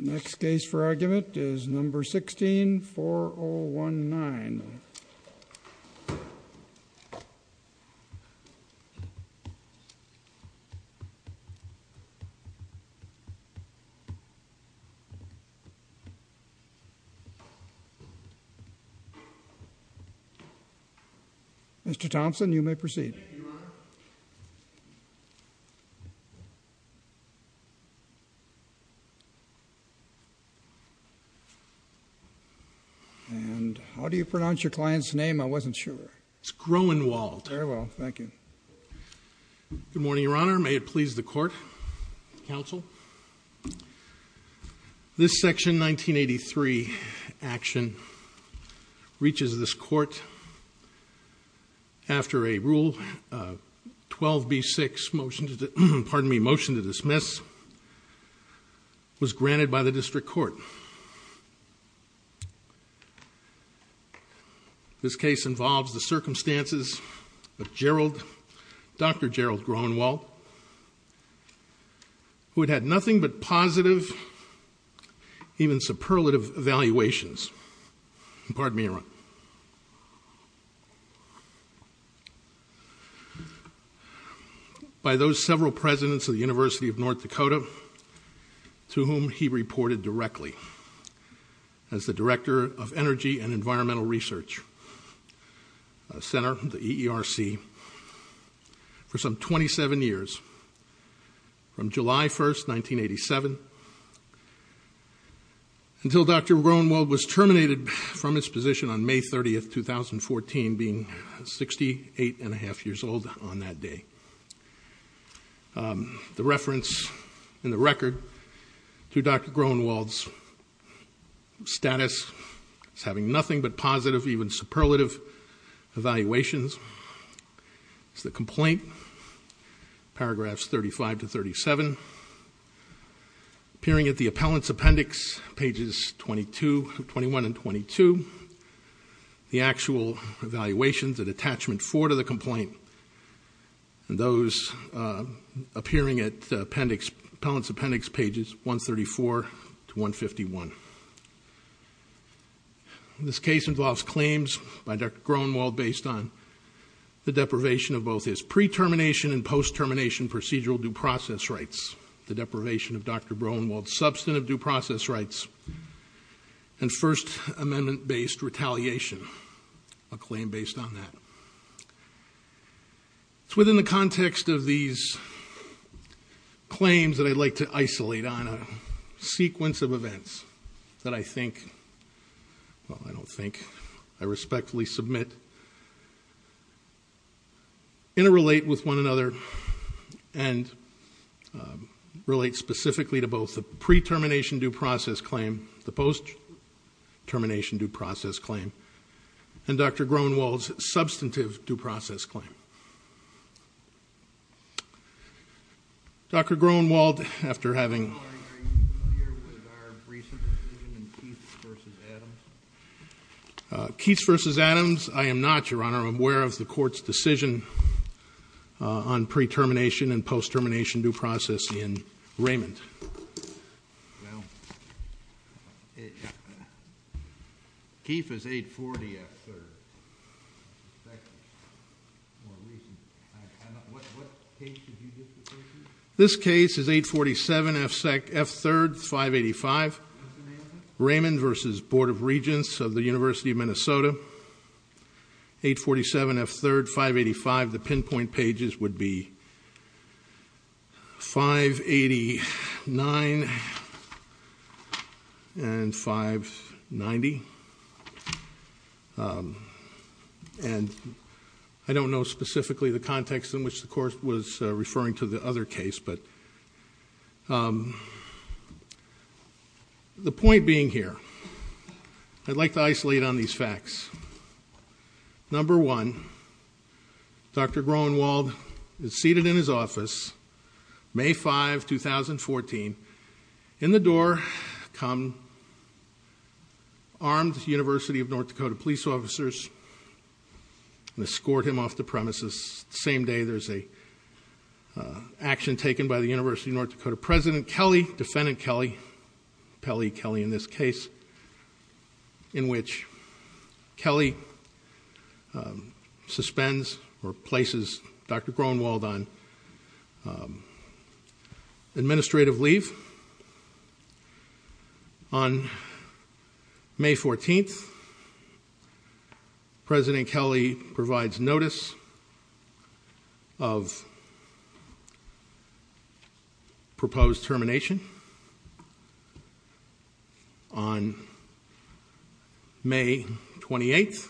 Next case for argument is No. 16-4019. Mr. Thompson, you may proceed. And how do you pronounce your client's name? I wasn't sure. It's Groenewold. Very well. Thank you. Good morning, Your Honor. May it please the Court, Counsel. This Section 1983 action reaches this Court after a Rule 12b-6 motion to dismiss was granted by the District Court. This case involves the circumstances of Dr. Gerald Groenewold, who had had nothing but positive, even superlative evaluations by those several presidents of the University of North Dakota to whom he reported directly. as the Director of Energy and Environmental Research Center, the EERC, for some 27 years, from July 1st, 1987, until Dr. Groenewold was terminated from his position on May 30th, 2014, being 68 and a half years old on that day. The reference in the record to Dr. Groenewold's status as having nothing but positive, even superlative evaluations is the complaint, paragraphs 35 to 37, appearing at the appellant's appendix, pages 21 and 22. The actual evaluations at attachment 4 to the complaint, those appearing at the appellant's appendix, pages 134 to 151. This case involves claims by Dr. Groenewold based on the deprivation of both his pre-termination and post-termination procedural due process rights, the deprivation of Dr. Groenewold's substantive due process rights, and First Amendment-based retaliation, a claim based on that. It's within the context of these claims that I'd like to isolate on a sequence of events that I think, well, I don't think, I respectfully submit, interrelate with one another and relate specifically to both the pre-termination due process claim, the post-termination due process claim, and Dr. Groenewold's substantive due process claim. Dr. Groenewold, after having... Are you familiar with our recent decision in Keiths v. Adams? Keiths v. Adams, I am not, Your Honor. I'm aware of the court's decision on pre-termination and post-termination due process in Raymond. Well, Keith is 840 F-3rd. This case is 847 F-3rd, 585 Raymond v. Board of Regents of the University of Minnesota. 847 F-3rd, 585. The pinpoint pages would be 589 and 590. And I don't know specifically the context in which the court was referring to the other case, but... The point being here, I'd like to isolate on these facts. Number one, Dr. Groenewold is seated in his office, May 5, 2014. In the door come armed University of North Dakota police officers and escort him off the premises. The same day, there's an action taken by the University of North Dakota president Kelly, defendant Kelly, Pelley Kelly in this case, in which Kelly suspends or places Dr. Groenewold on administrative leave. On May 14th, President Kelly provides notice of proposed termination. On May 28th,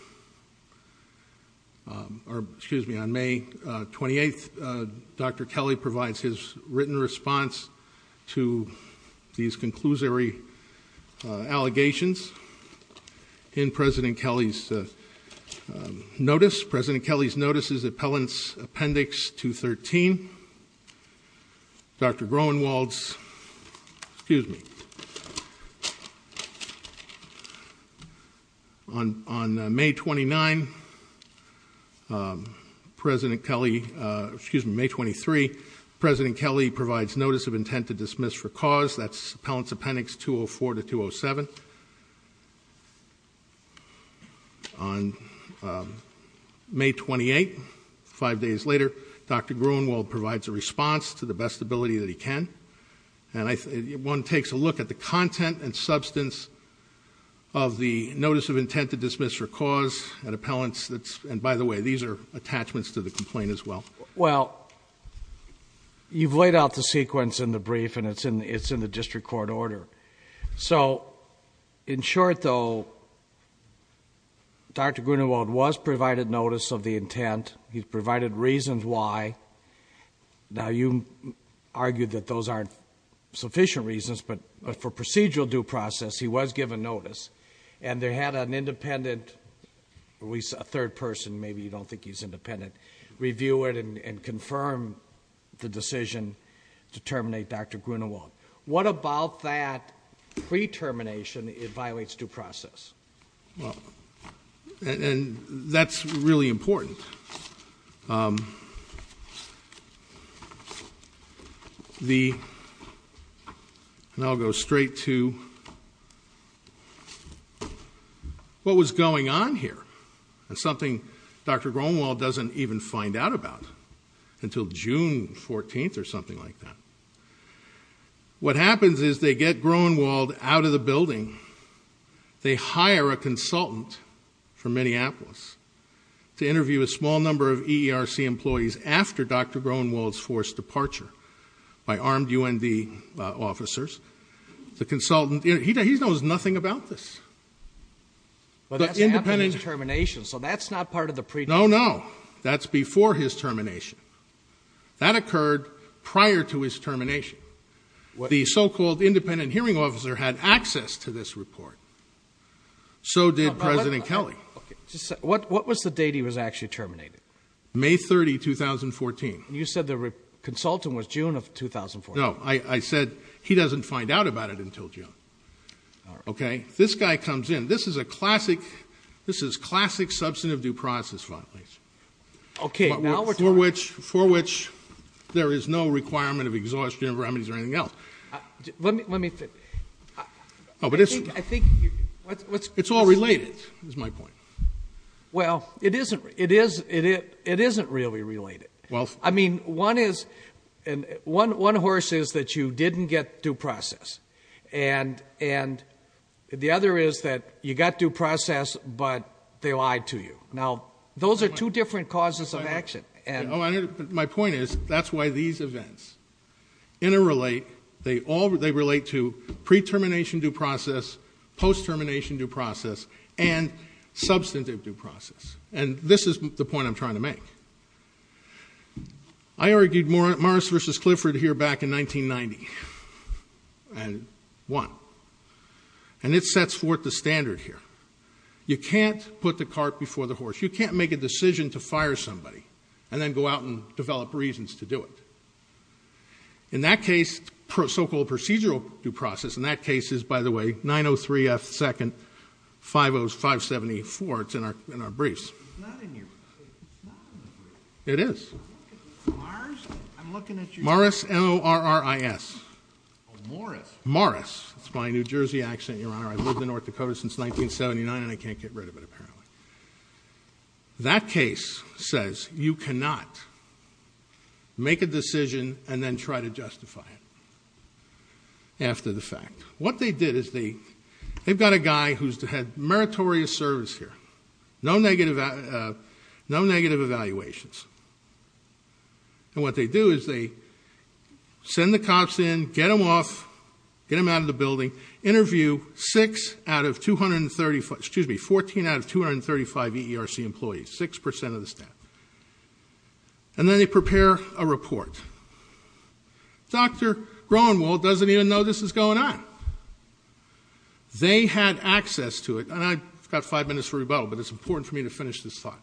Dr. Kelly provides his written response to these conclusory allegations in President Kelly's notice. President Kelly's notice is Appendix 213. Dr. Groenewold's, excuse me. On May 29, President Kelly, excuse me, May 23, President Kelly provides notice of intent to dismiss for cause. That's Appellant's Appendix 204 to 207. On May 28, five days later, Dr. Groenewold provides a response to the best ability that he can. And one takes a look at the content and substance of the notice of intent to dismiss for cause at Appellant's. And by the way, these are attachments to the complaint as well. Well, you've laid out the sequence in the brief and it's in the district court order. So, in short though, Dr. Groenewold was provided notice of the intent. He's provided reasons why. Now, you argued that those aren't sufficient reasons, but for procedural due process, he was given notice. And they had an independent, at least a third person, maybe you don't think he's independent, review it and confirm the decision to terminate Dr. Groenewold. What about that pre-termination, it violates due process? Well, and that's really important. And I'll go straight to what was going on here. And something Dr. Groenewold doesn't even find out about until June 14th or something like that. What happens is they get Groenewold out of the building. They hire a consultant from Minneapolis to interview a small number of EERC employees after Dr. Groenewold's forced departure by armed UND officers. The consultant, he knows nothing about this. But that's after his termination, so that's not part of the pre-termination. No, no, that's before his termination. That occurred prior to his termination. The so-called independent hearing officer had access to this report. So did President Kelly. What was the date he was actually terminated? May 30, 2014. You said the consultant was June of 2014. No, I said he doesn't find out about it until June. Okay. This guy comes in. This is a classic substantive due process file. Okay, now we're talking. For which there is no requirement of exhaustion of remedies or anything else. Let me finish. I think you're... It's all related is my point. Well, it isn't really related. I mean, one horse is that you didn't get due process. And the other is that you got due process, but they lied to you. Now, those are two different causes of action. My point is that's why these events interrelate. They relate to pre-termination due process, post-termination due process, and substantive due process. And this is the point I'm trying to make. I argued Morris v. Clifford here back in 1990. And one. And it sets forth the standard here. You can't put the cart before the horse. You can't make a decision to fire somebody and then go out and develop reasons to do it. In that case, so-called procedural due process, in that case is, by the way, 903F second 50574. It's in our briefs. It's not in your briefs. It is. Morris? Morris, M-O-R-R-I-S. Oh, Morris. Morris. It's my New Jersey accent, Your Honor. I've lived in North Dakota since 1979, and I can't get rid of it, apparently. That case says you cannot make a decision and then try to justify it after the fact. What they did is they've got a guy who's had meritorious service here. No negative evaluations. And what they do is they send the cops in, get them off, get them out of the building, interview 14 out of 235 EERC employees, 6% of the staff, and then they prepare a report. Dr. Groenewald doesn't even know this is going on. They had access to it, and I've got five minutes for rebuttal, but it's important for me to finish this thought.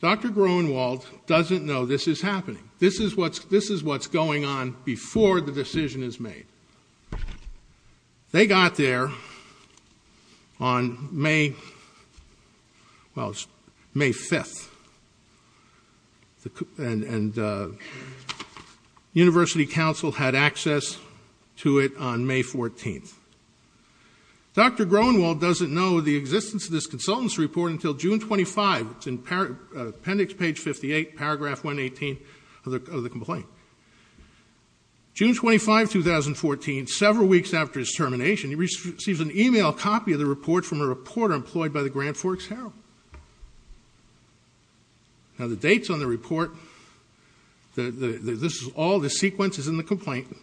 Dr. Groenewald doesn't know this is happening. This is what's going on before the decision is made. They got there on May 5th, and University Council had access to it on May 14th. Dr. Groenewald doesn't know the existence of this consultant's report until June 25. It's in appendix page 58, paragraph 118 of the complaint. June 25, 2014, several weeks after his termination, he receives an e-mail copy of the report from a reporter employed by the Grand Forks Herald. Now, the dates on the report, this is all the sequences in the complaint,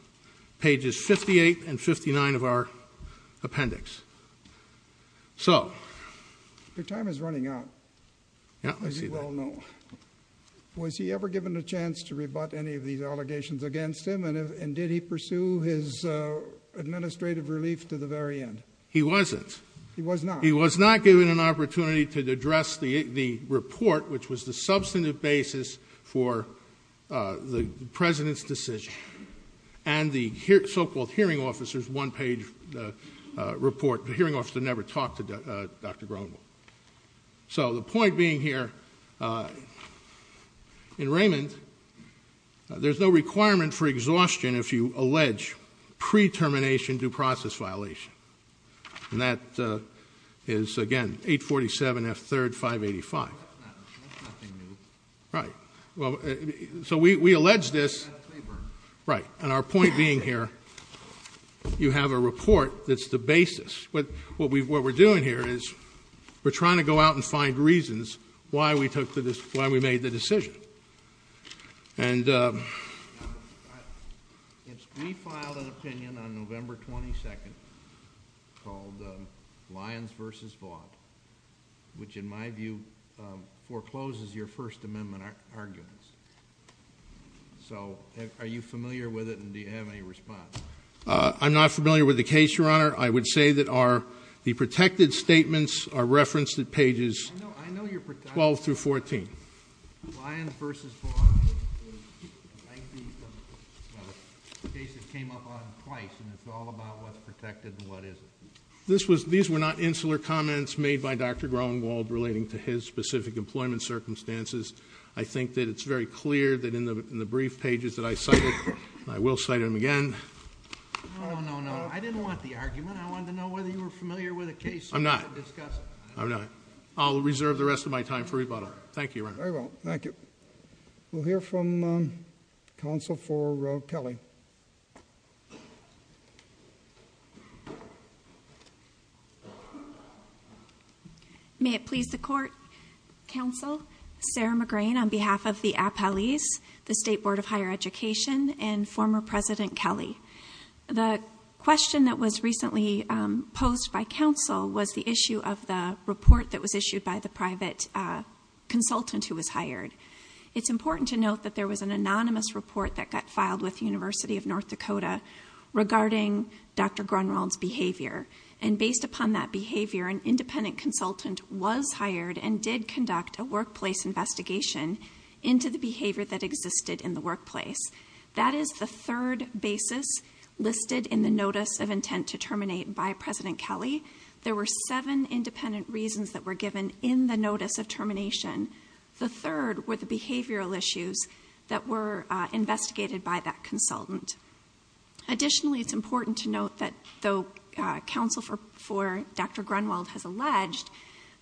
pages 58 and 59 of our appendix. Your time is running out. Was he ever given a chance to rebut any of these allegations against him, and did he pursue his administrative relief to the very end? He wasn't. He was not. He was not given an opportunity to address the report, which was the substantive basis for the president's decision, and the so-called hearing officer's one-page report. The hearing officer never talked to Dr. Groenewald. So the point being here, in Raymond, there's no requirement for exhaustion if you allege pre-termination due process violation. And that is, again, 847 F. 3rd, 585. That's nothing new. Right. So we allege this. Right. And our point being here, you have a report that's the basis. What we're doing here is we're trying to go out and find reasons why we made the decision. And we filed an opinion on November 22nd called Lyons v. Vaught, which in my view forecloses your First Amendment arguments. So are you familiar with it, and do you have any response? I'm not familiar with the case, Your Honor. I would say that the protected statements are referenced at pages 12 through 14. Lyons v. Vaught, like the case that came up on twice, and it's all about what's protected and what isn't. These were not insular comments made by Dr. Groenewald relating to his specific employment circumstances. I think that it's very clear that in the brief pages that I cited, and I will cite them again. No, no, no. I didn't want the argument. I wanted to know whether you were familiar with the case. I'm not. I'll reserve the rest of my time for rebuttal. Thank you, Your Honor. Very well. Thank you. We'll hear from counsel for Kelly. May it please the Court, Counsel, Sarah McGrain, on behalf of the appellees, the State Board of Higher Education, and former President Kelly. The question that was recently posed by counsel was the issue of the report that was issued by the private consultant who was hired. It's important to note that there was an anonymous report that got filed with the University of North Dakota regarding Dr. Groenewald's behavior. And based upon that behavior, an independent consultant was hired and did conduct a workplace investigation into the behavior that existed in the workplace. That is the third basis listed in the notice of intent to terminate by President Kelly. There were seven independent reasons that were given in the notice of termination. The third were the behavioral issues that were investigated by that consultant. Additionally, it's important to note that though counsel for Dr. Groenewald has alleged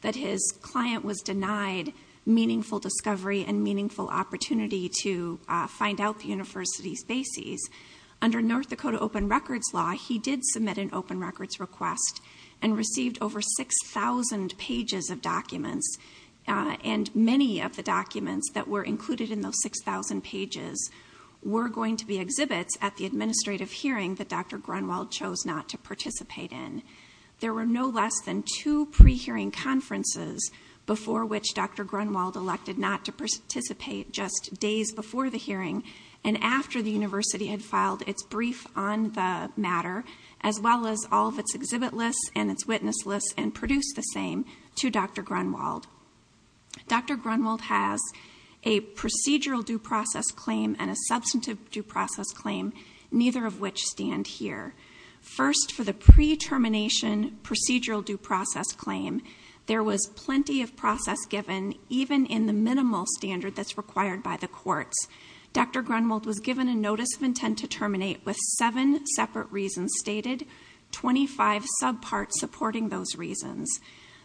that his client was denied meaningful discovery and meaningful opportunity to find out the university's bases, under North Dakota Open Records Law, he did submit an open records request and received over 6,000 pages of documents. And many of the documents that were included in those 6,000 pages were going to be exhibits at the administrative hearing that Dr. Groenewald chose not to participate in. There were no less than two pre-hearing conferences before which Dr. Groenewald elected not to participate just days before the hearing and after the university had filed its brief on the matter, as well as all of its exhibit lists and its witness lists, and produced the same to Dr. Groenewald. Dr. Groenewald has a procedural due process claim and a substantive due process claim, neither of which stand here. First, for the pre-termination procedural due process claim, there was plenty of process given, even in the minimal standard that's required by the courts. Dr. Groenewald was given a notice of intent to terminate with seven separate reasons stated, 25 subparts supporting those reasons.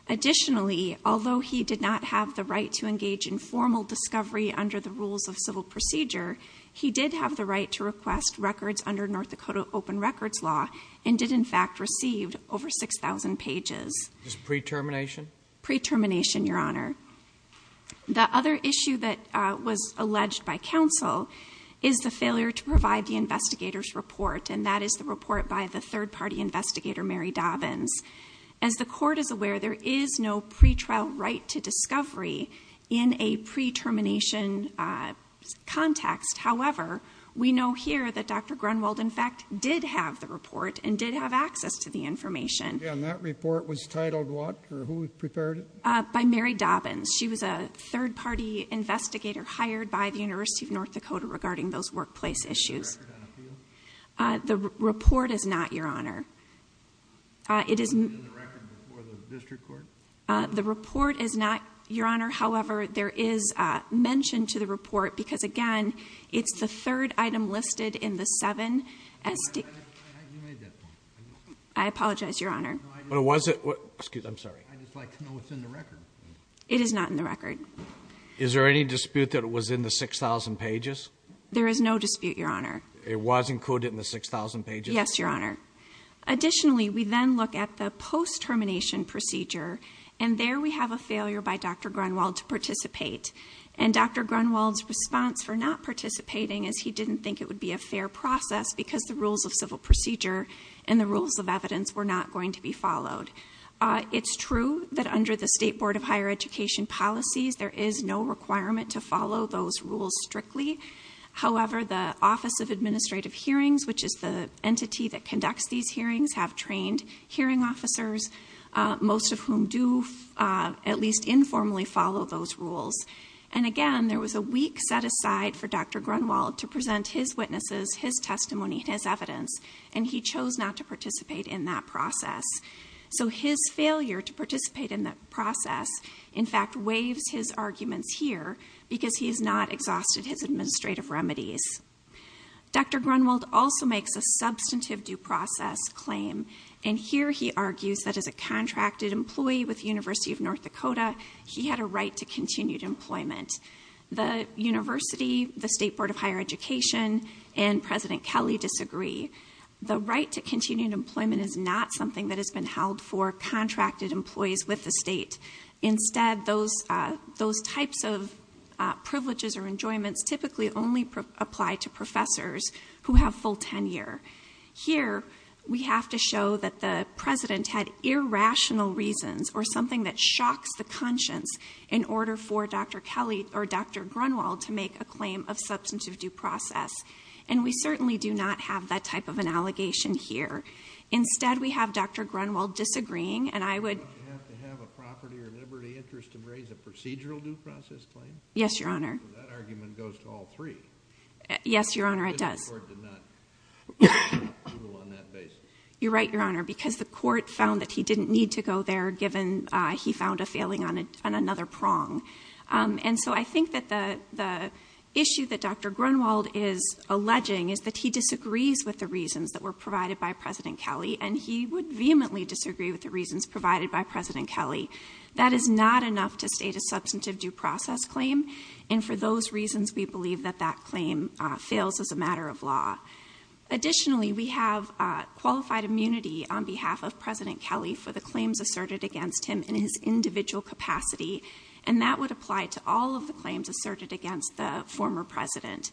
Additionally, although he did not have the right to engage in formal discovery under the rules of civil procedure, he did have the right to request records under North Dakota Open Records Law and did, in fact, receive over 6,000 pages. Pre-termination? Pre-termination, Your Honor. The other issue that was alleged by counsel is the failure to provide the investigator's report, and that is the report by the third-party investigator, Mary Dobbins. As the court is aware, there is no pretrial right to discovery in a pre-termination context. However, we know here that Dr. Groenewald, in fact, did have the report and did have access to the information. And that report was titled what, or who prepared it? By Mary Dobbins. She was a third-party investigator hired by the University of North Dakota regarding those workplace issues. Is there a record on it for you? The report is not, Your Honor. Is it in the record before the district court? The report is not, Your Honor. However, there is mention to the report because, again, it's the third item listed in the seven. You made that point. I apologize, Your Honor. I'm sorry. I'd just like to know what's in the record. It is not in the record. Is there any dispute that it was in the 6,000 pages? There is no dispute, Your Honor. It was included in the 6,000 pages? Yes, Your Honor. Additionally, we then look at the post-termination procedure, and there we have a failure by Dr. Groenewald to participate. And Dr. Groenewald's response for not participating is he didn't think it would be a fair process because the rules of civil procedure and the rules of evidence were not going to be followed. It's true that under the State Board of Higher Education policies, there is no requirement to follow those rules strictly. However, the Office of Administrative Hearings, which is the entity that conducts these hearings, have trained hearing officers, most of whom do at least informally follow those rules. And again, there was a week set aside for Dr. Groenewald to present his witnesses, his testimony, his evidence, and he chose not to participate in that process. So his failure to participate in that process, in fact, waives his arguments here because he has not exhausted his administrative remedies. Dr. Groenewald also makes a substantive due process claim, and here he argues that as a contracted employee with the University of North Dakota, he had a right to continued employment. The university, the State Board of Higher Education, and President Kelly disagree. The right to continued employment is not something that has been held for contracted employees with the state. Instead, those types of privileges or enjoyments typically only apply to professors who have full tenure. Here, we have to show that the president had irrational reasons or something that shocks the conscience in order for Dr. Kelly or Dr. Groenewald to make a claim of substantive due process. And we certainly do not have that type of an allegation here. Instead, we have Dr. Groenewald disagreeing, and I would... Don't you have to have a property or liberty interest to raise a procedural due process claim? Yes, Your Honor. So that argument goes to all three. Yes, Your Honor, it does. Because the court did not rule on that basis. You're right, Your Honor, because the court found that he didn't need to go there given he found a failing on another prong. And so I think that the issue that Dr. Groenewald is alleging is that he disagrees with the reasons that were provided by President Kelly, and he would vehemently disagree with the reasons provided by President Kelly. That is not enough to state a substantive due process claim, and for those reasons we believe that that claim fails as a matter of law. Additionally, we have qualified immunity on behalf of President Kelly for the claims asserted against him in his individual capacity, and that would apply to all of the claims asserted against the former president.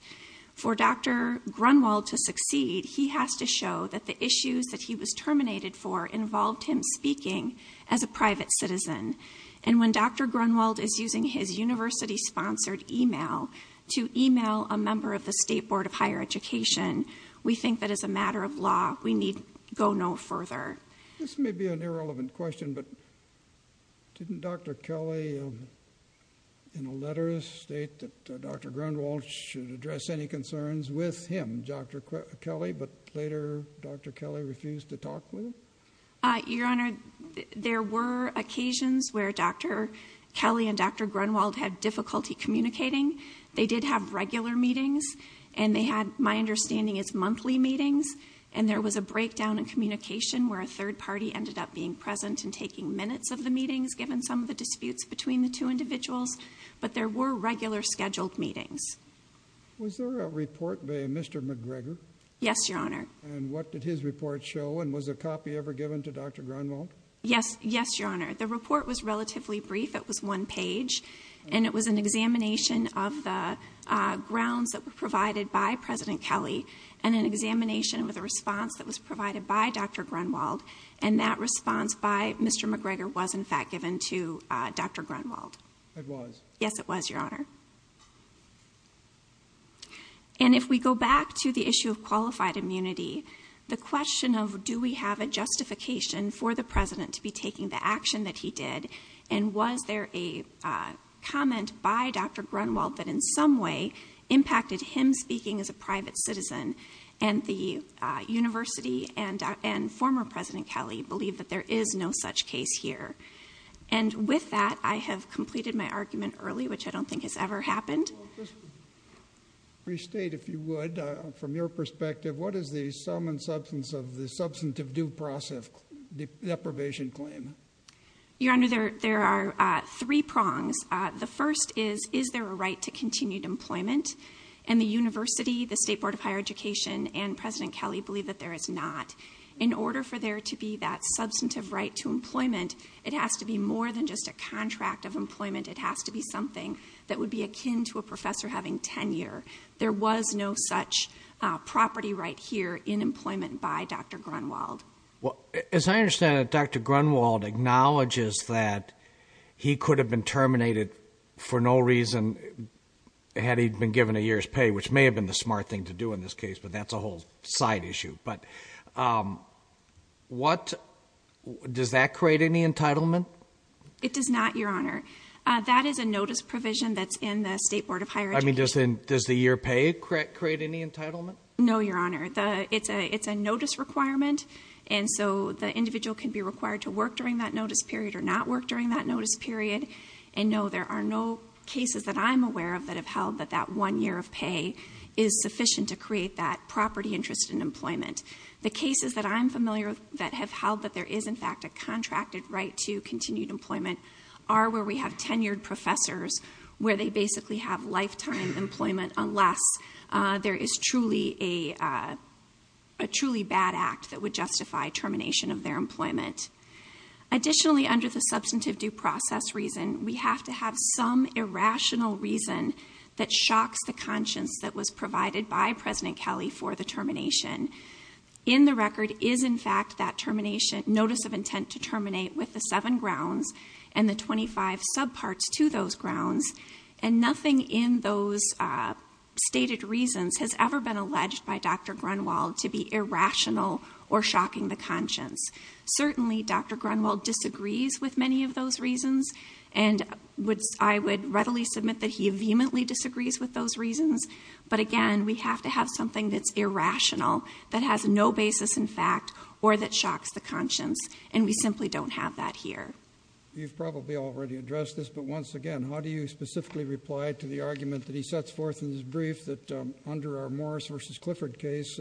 For Dr. Groenewald to succeed, he has to show that the issues that he was terminated for involved him speaking as a private citizen. And when Dr. Groenewald is using his university-sponsored email to email a member of the State Board of Higher Education, we think that as a matter of law we need go no further. This may be an irrelevant question, but didn't Dr. Kelly in a letter state that Dr. Groenewald should address any concerns with him, Dr. Kelly, but later Dr. Kelly refused to talk with him? Your Honor, there were occasions where Dr. Kelly and Dr. Groenewald had difficulty communicating. They did have regular meetings, and they had, my understanding, it's monthly meetings, and there was a breakdown in communication where a third party ended up being present and taking minutes of the meetings given some of the disputes between the two individuals, but there were regular scheduled meetings. Was there a report by Mr. McGregor? Yes, Your Honor. And what did his report show, and was a copy ever given to Dr. Groenewald? Yes, Your Honor. The report was relatively brief. It was one page, and it was an examination of the grounds that were provided by President Kelly and an examination with a response that was provided by Dr. Groenewald, and that response by Mr. McGregor was, in fact, given to Dr. Groenewald. It was. Yes, it was, Your Honor. And if we go back to the issue of qualified immunity, the question of do we have a justification for the President to be taking the action that he did, and was there a comment by Dr. Groenewald that in some way impacted him speaking as a private citizen, and the university and former President Kelly believe that there is no such case here. And with that, I have completed my argument early, which I don't think has ever happened. Well, just to restate, if you would, from your perspective, what is the sum and substance of the substantive due process deprivation claim? Your Honor, there are three prongs. The first is, is there a right to continued employment? And the university, the State Board of Higher Education, and President Kelly believe that there is not. In order for there to be that substantive right to employment, it has to be more than just a contract of employment. It has to be something that would be akin to a professor having tenure. There was no such property right here in employment by Dr. Groenewald. Well, as I understand it, Dr. Groenewald acknowledges that he could have been terminated for no reason had he been given a year's pay, which may have been the smart thing to do in this case, but that's a whole side issue. But what, does that create any entitlement? It does not, Your Honor. That is a notice provision that's in the State Board of Higher Education. I mean, does the year pay create any entitlement? No, Your Honor. It's a notice requirement, and so the individual can be required to work during that notice period or not work during that notice period. And no, there are no cases that I'm aware of that have held that that one year of pay is sufficient to create that property interest in employment. The cases that I'm familiar with that have held that there is, in fact, a contracted right to continued employment are where we have tenured professors where they basically have lifetime employment unless there is truly a truly bad act that would justify termination of their employment. Additionally, under the substantive due process reason, we have to have some irrational reason that shocks the conscience that was provided by President Kelly for the termination. In the record is, in fact, that termination notice of intent to terminate with the seven grounds and the 25 subparts to those grounds. And nothing in those stated reasons has ever been alleged by Dr. Grunwald to be irrational or shocking the conscience. Certainly, Dr. Grunwald disagrees with many of those reasons, and I would readily submit that he vehemently disagrees with those reasons. But again, we have to have something that's irrational, that has no basis in fact, or that shocks the conscience. And we simply don't have that here. You've probably already addressed this, but once again, how do you specifically reply to the argument that he sets forth in his brief that under our Morris v. Clifford case,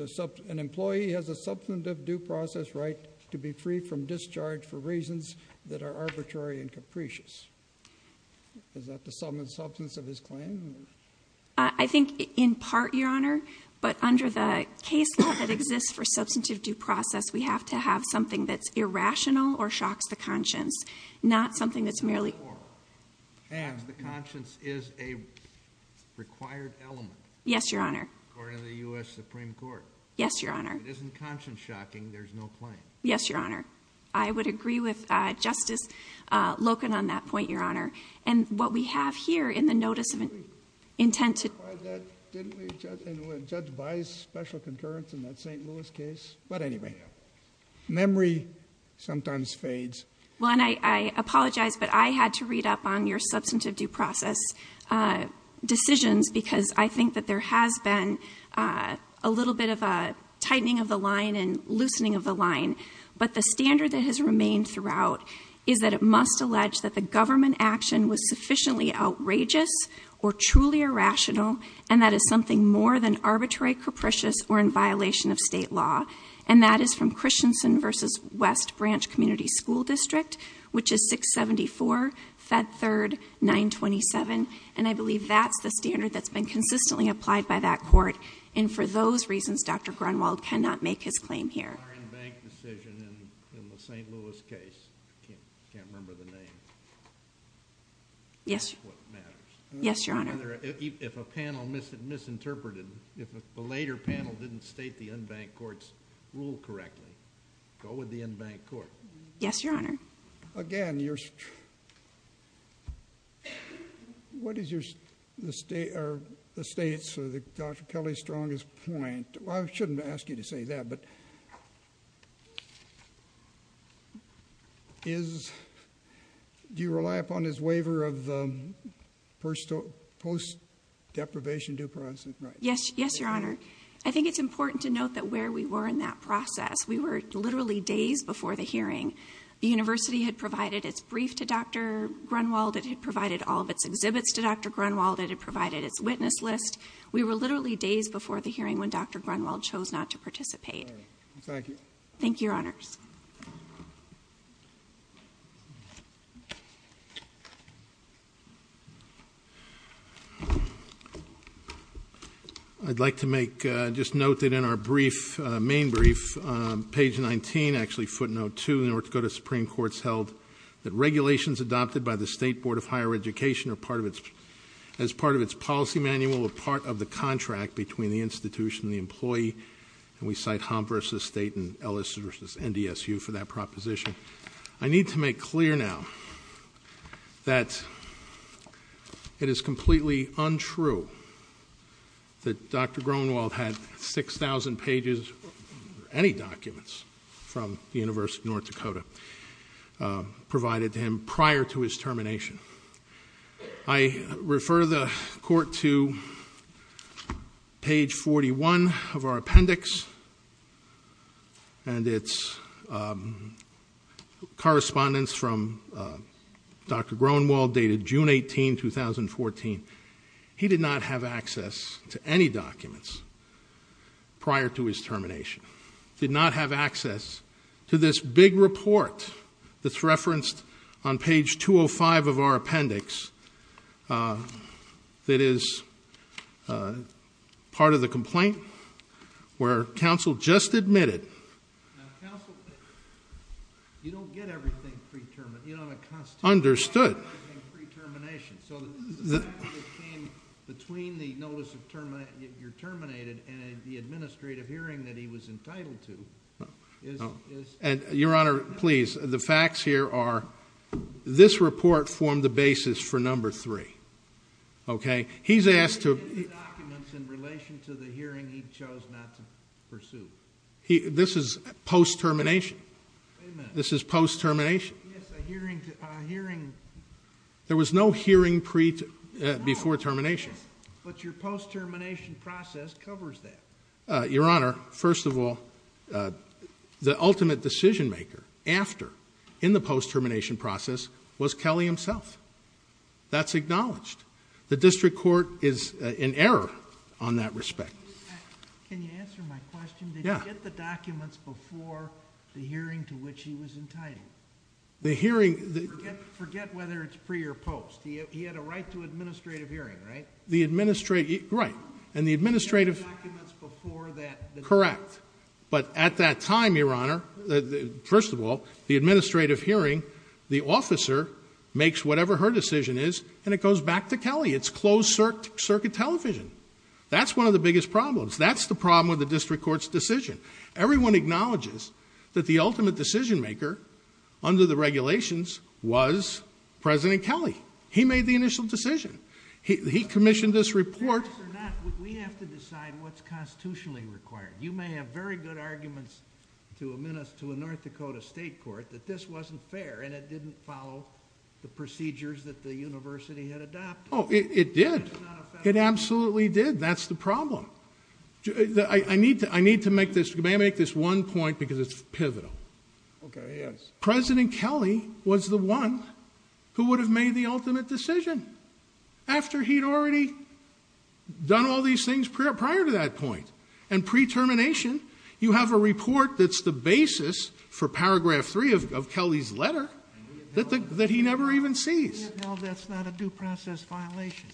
an employee has a substantive due process right to be free from discharge for reasons that are arbitrary and capricious? Is that the sum and substance of his claim? I think in part, Your Honor. But under the case law that exists for substantive due process, we have to have something that's irrational or shocks the conscience, not something that's merely... And the conscience is a required element. Yes, Your Honor. According to the U.S. Supreme Court. Yes, Your Honor. If it isn't conscience-shocking, there's no claim. Yes, Your Honor. I would agree with Justice Loken on that point, Your Honor. And what we have here in the notice of intent to... Didn't we judge by special concurrence in that St. Louis case? But anyway, memory sometimes fades. Well, and I apologize, but I had to read up on your substantive due process decisions because I think that there has been a little bit of a tightening of the line and loosening of the line. But the standard that has remained throughout is that it must allege that the government action was sufficiently outrageous or truly irrational, and that is something more than arbitrary, capricious, or in violation of state law. And that is from Christensen v. West Branch Community School District, which is 674 Fed 3rd 927. And I believe that's the standard that's been consistently applied by that court. And for those reasons, Dr. Grunwald cannot make his claim here. In our unbanked decision in the St. Louis case, I can't remember the name. Yes, Your Honor. If a panel misinterpreted, if a later panel didn't state the unbanked court's rule correctly, go with the unbanked court. Yes, Your Honor. Again, you're... What is the state's or Dr. Kelly's strongest point? I shouldn't ask you to say that, but... Do you rely upon his waiver of the post-deprivation due process? Yes, Your Honor. I think it's important to note that where we were in that process, we were literally days before the hearing. The university had provided its brief to Dr. Grunwald. It had provided all of its exhibits to Dr. Grunwald. It had provided its witness list. We were literally days before the hearing when Dr. Grunwald chose not to participate. Thank you. Thank you, Your Honors. I'd like to make, just note that in our brief, main brief, page 19, actually footnote 2, the North Dakota Supreme Court's held that regulations adopted by the State Board of Higher Education as part of its policy manual were part of the contract between the institution and the employee, and we cite Hump v. State and Ellis v. NDSU for that proposition. I need to make clear now that it is completely untrue that Dr. Grunwald had 6,000 pages, or any documents, from the University of North Dakota provided to him prior to his termination. I refer the Court to page 41 of our appendix and its correspondence from Dr. Grunwald dated June 18, 2014. He did not have access to any documents prior to his termination, did not have access to this big report that's referenced on page 205 of our appendix that is part of the complaint where counsel just admitted, understood, So the fact that it came between the notice that you're terminated and the administrative hearing that he was entitled to is... Your Honor, please, the facts here are, this report formed the basis for number 3. Okay? He's asked to... In relation to the hearing he chose not to pursue. This is post-termination. This is post-termination. Yes, a hearing... There was no hearing before termination. But your post-termination process covers that. Your Honor, first of all, the ultimate decision maker after, in the post-termination process, was Kelly himself. That's acknowledged. The District Court is in error on that respect. Can you answer my question? Yeah. Forget the documents before the hearing to which he was entitled. The hearing... Forget whether it's pre or post. He had a right to administrative hearing, right? The administrative... Right. And the administrative... Get the documents before that... Correct. But at that time, your Honor, first of all, the administrative hearing, the officer makes whatever her decision is and it goes back to Kelly. It's closed-circuit television. That's one of the biggest problems. That's the problem with the District Court's decision. Everyone acknowledges that the ultimate decision maker under the regulations was President Kelly. He made the initial decision. He commissioned this report... We have to decide what's constitutionally required. You may have very good arguments to admit us to a North Dakota state court that this wasn't fair and it didn't follow the procedures that the university had adopted. Oh, it did. It absolutely did. That's the problem. I need to make this one point because it's pivotal. Okay, yes. President Kelly was the one who would have made the ultimate decision after he'd already done all these things prior to that point. And pre-termination, you have a report that's the basis for Paragraph 3 of Kelly's letter that he never even sees. No, that's not a due process violation.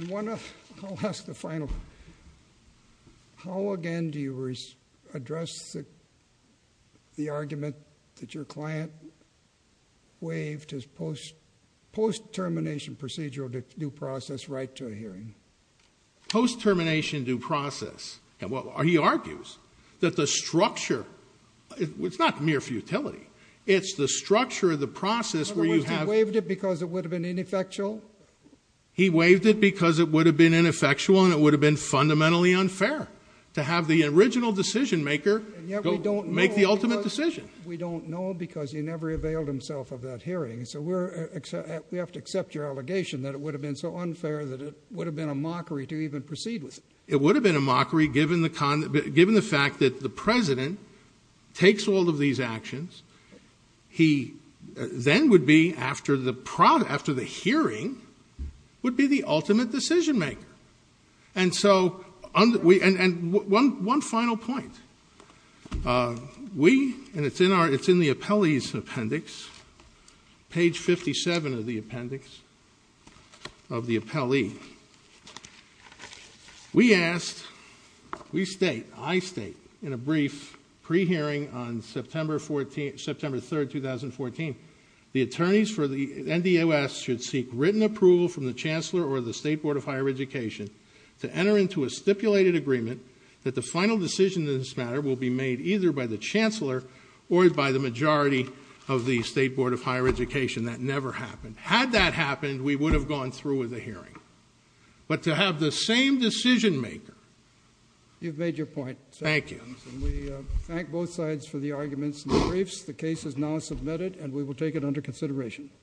I'll ask the final one. How, again, do you address the argument that your client waived his post-termination procedural due process right to a hearing? Post-termination due process. He argues that the structure... It's not mere futility. It's the structure of the process where you have... In other words, he waived it because it would have been ineffectual? He waived it because it would have been ineffectual and it would have been fundamentally unfair to have the original decision-maker make the ultimate decision. And yet we don't know because he never availed himself of that hearing. So we have to accept your allegation that it would have been so unfair that it would have been a mockery to even proceed with it. It would have been a mockery given the fact that the president takes all of these actions. He then would be, after the hearing, would be the ultimate decision-maker. And so... And one final point. We... And it's in the appellee's appendix, page 57 of the appendix of the appellee. We asked... We state, I state, in a brief pre-hearing on September 3, 2014, the attorneys for the NDOS should seek written approval from the chancellor or the State Board of Higher Education to enter into a stipulated agreement that the final decision in this matter will be made either by the chancellor or by the majority of the State Board of Higher Education. That never happened. Had that happened, we would have gone through with the hearing. But to have the same decision-maker... You've made your point. Thank you. We thank both sides for the arguments in the briefs. The case is now submitted, and we will take it under consideration.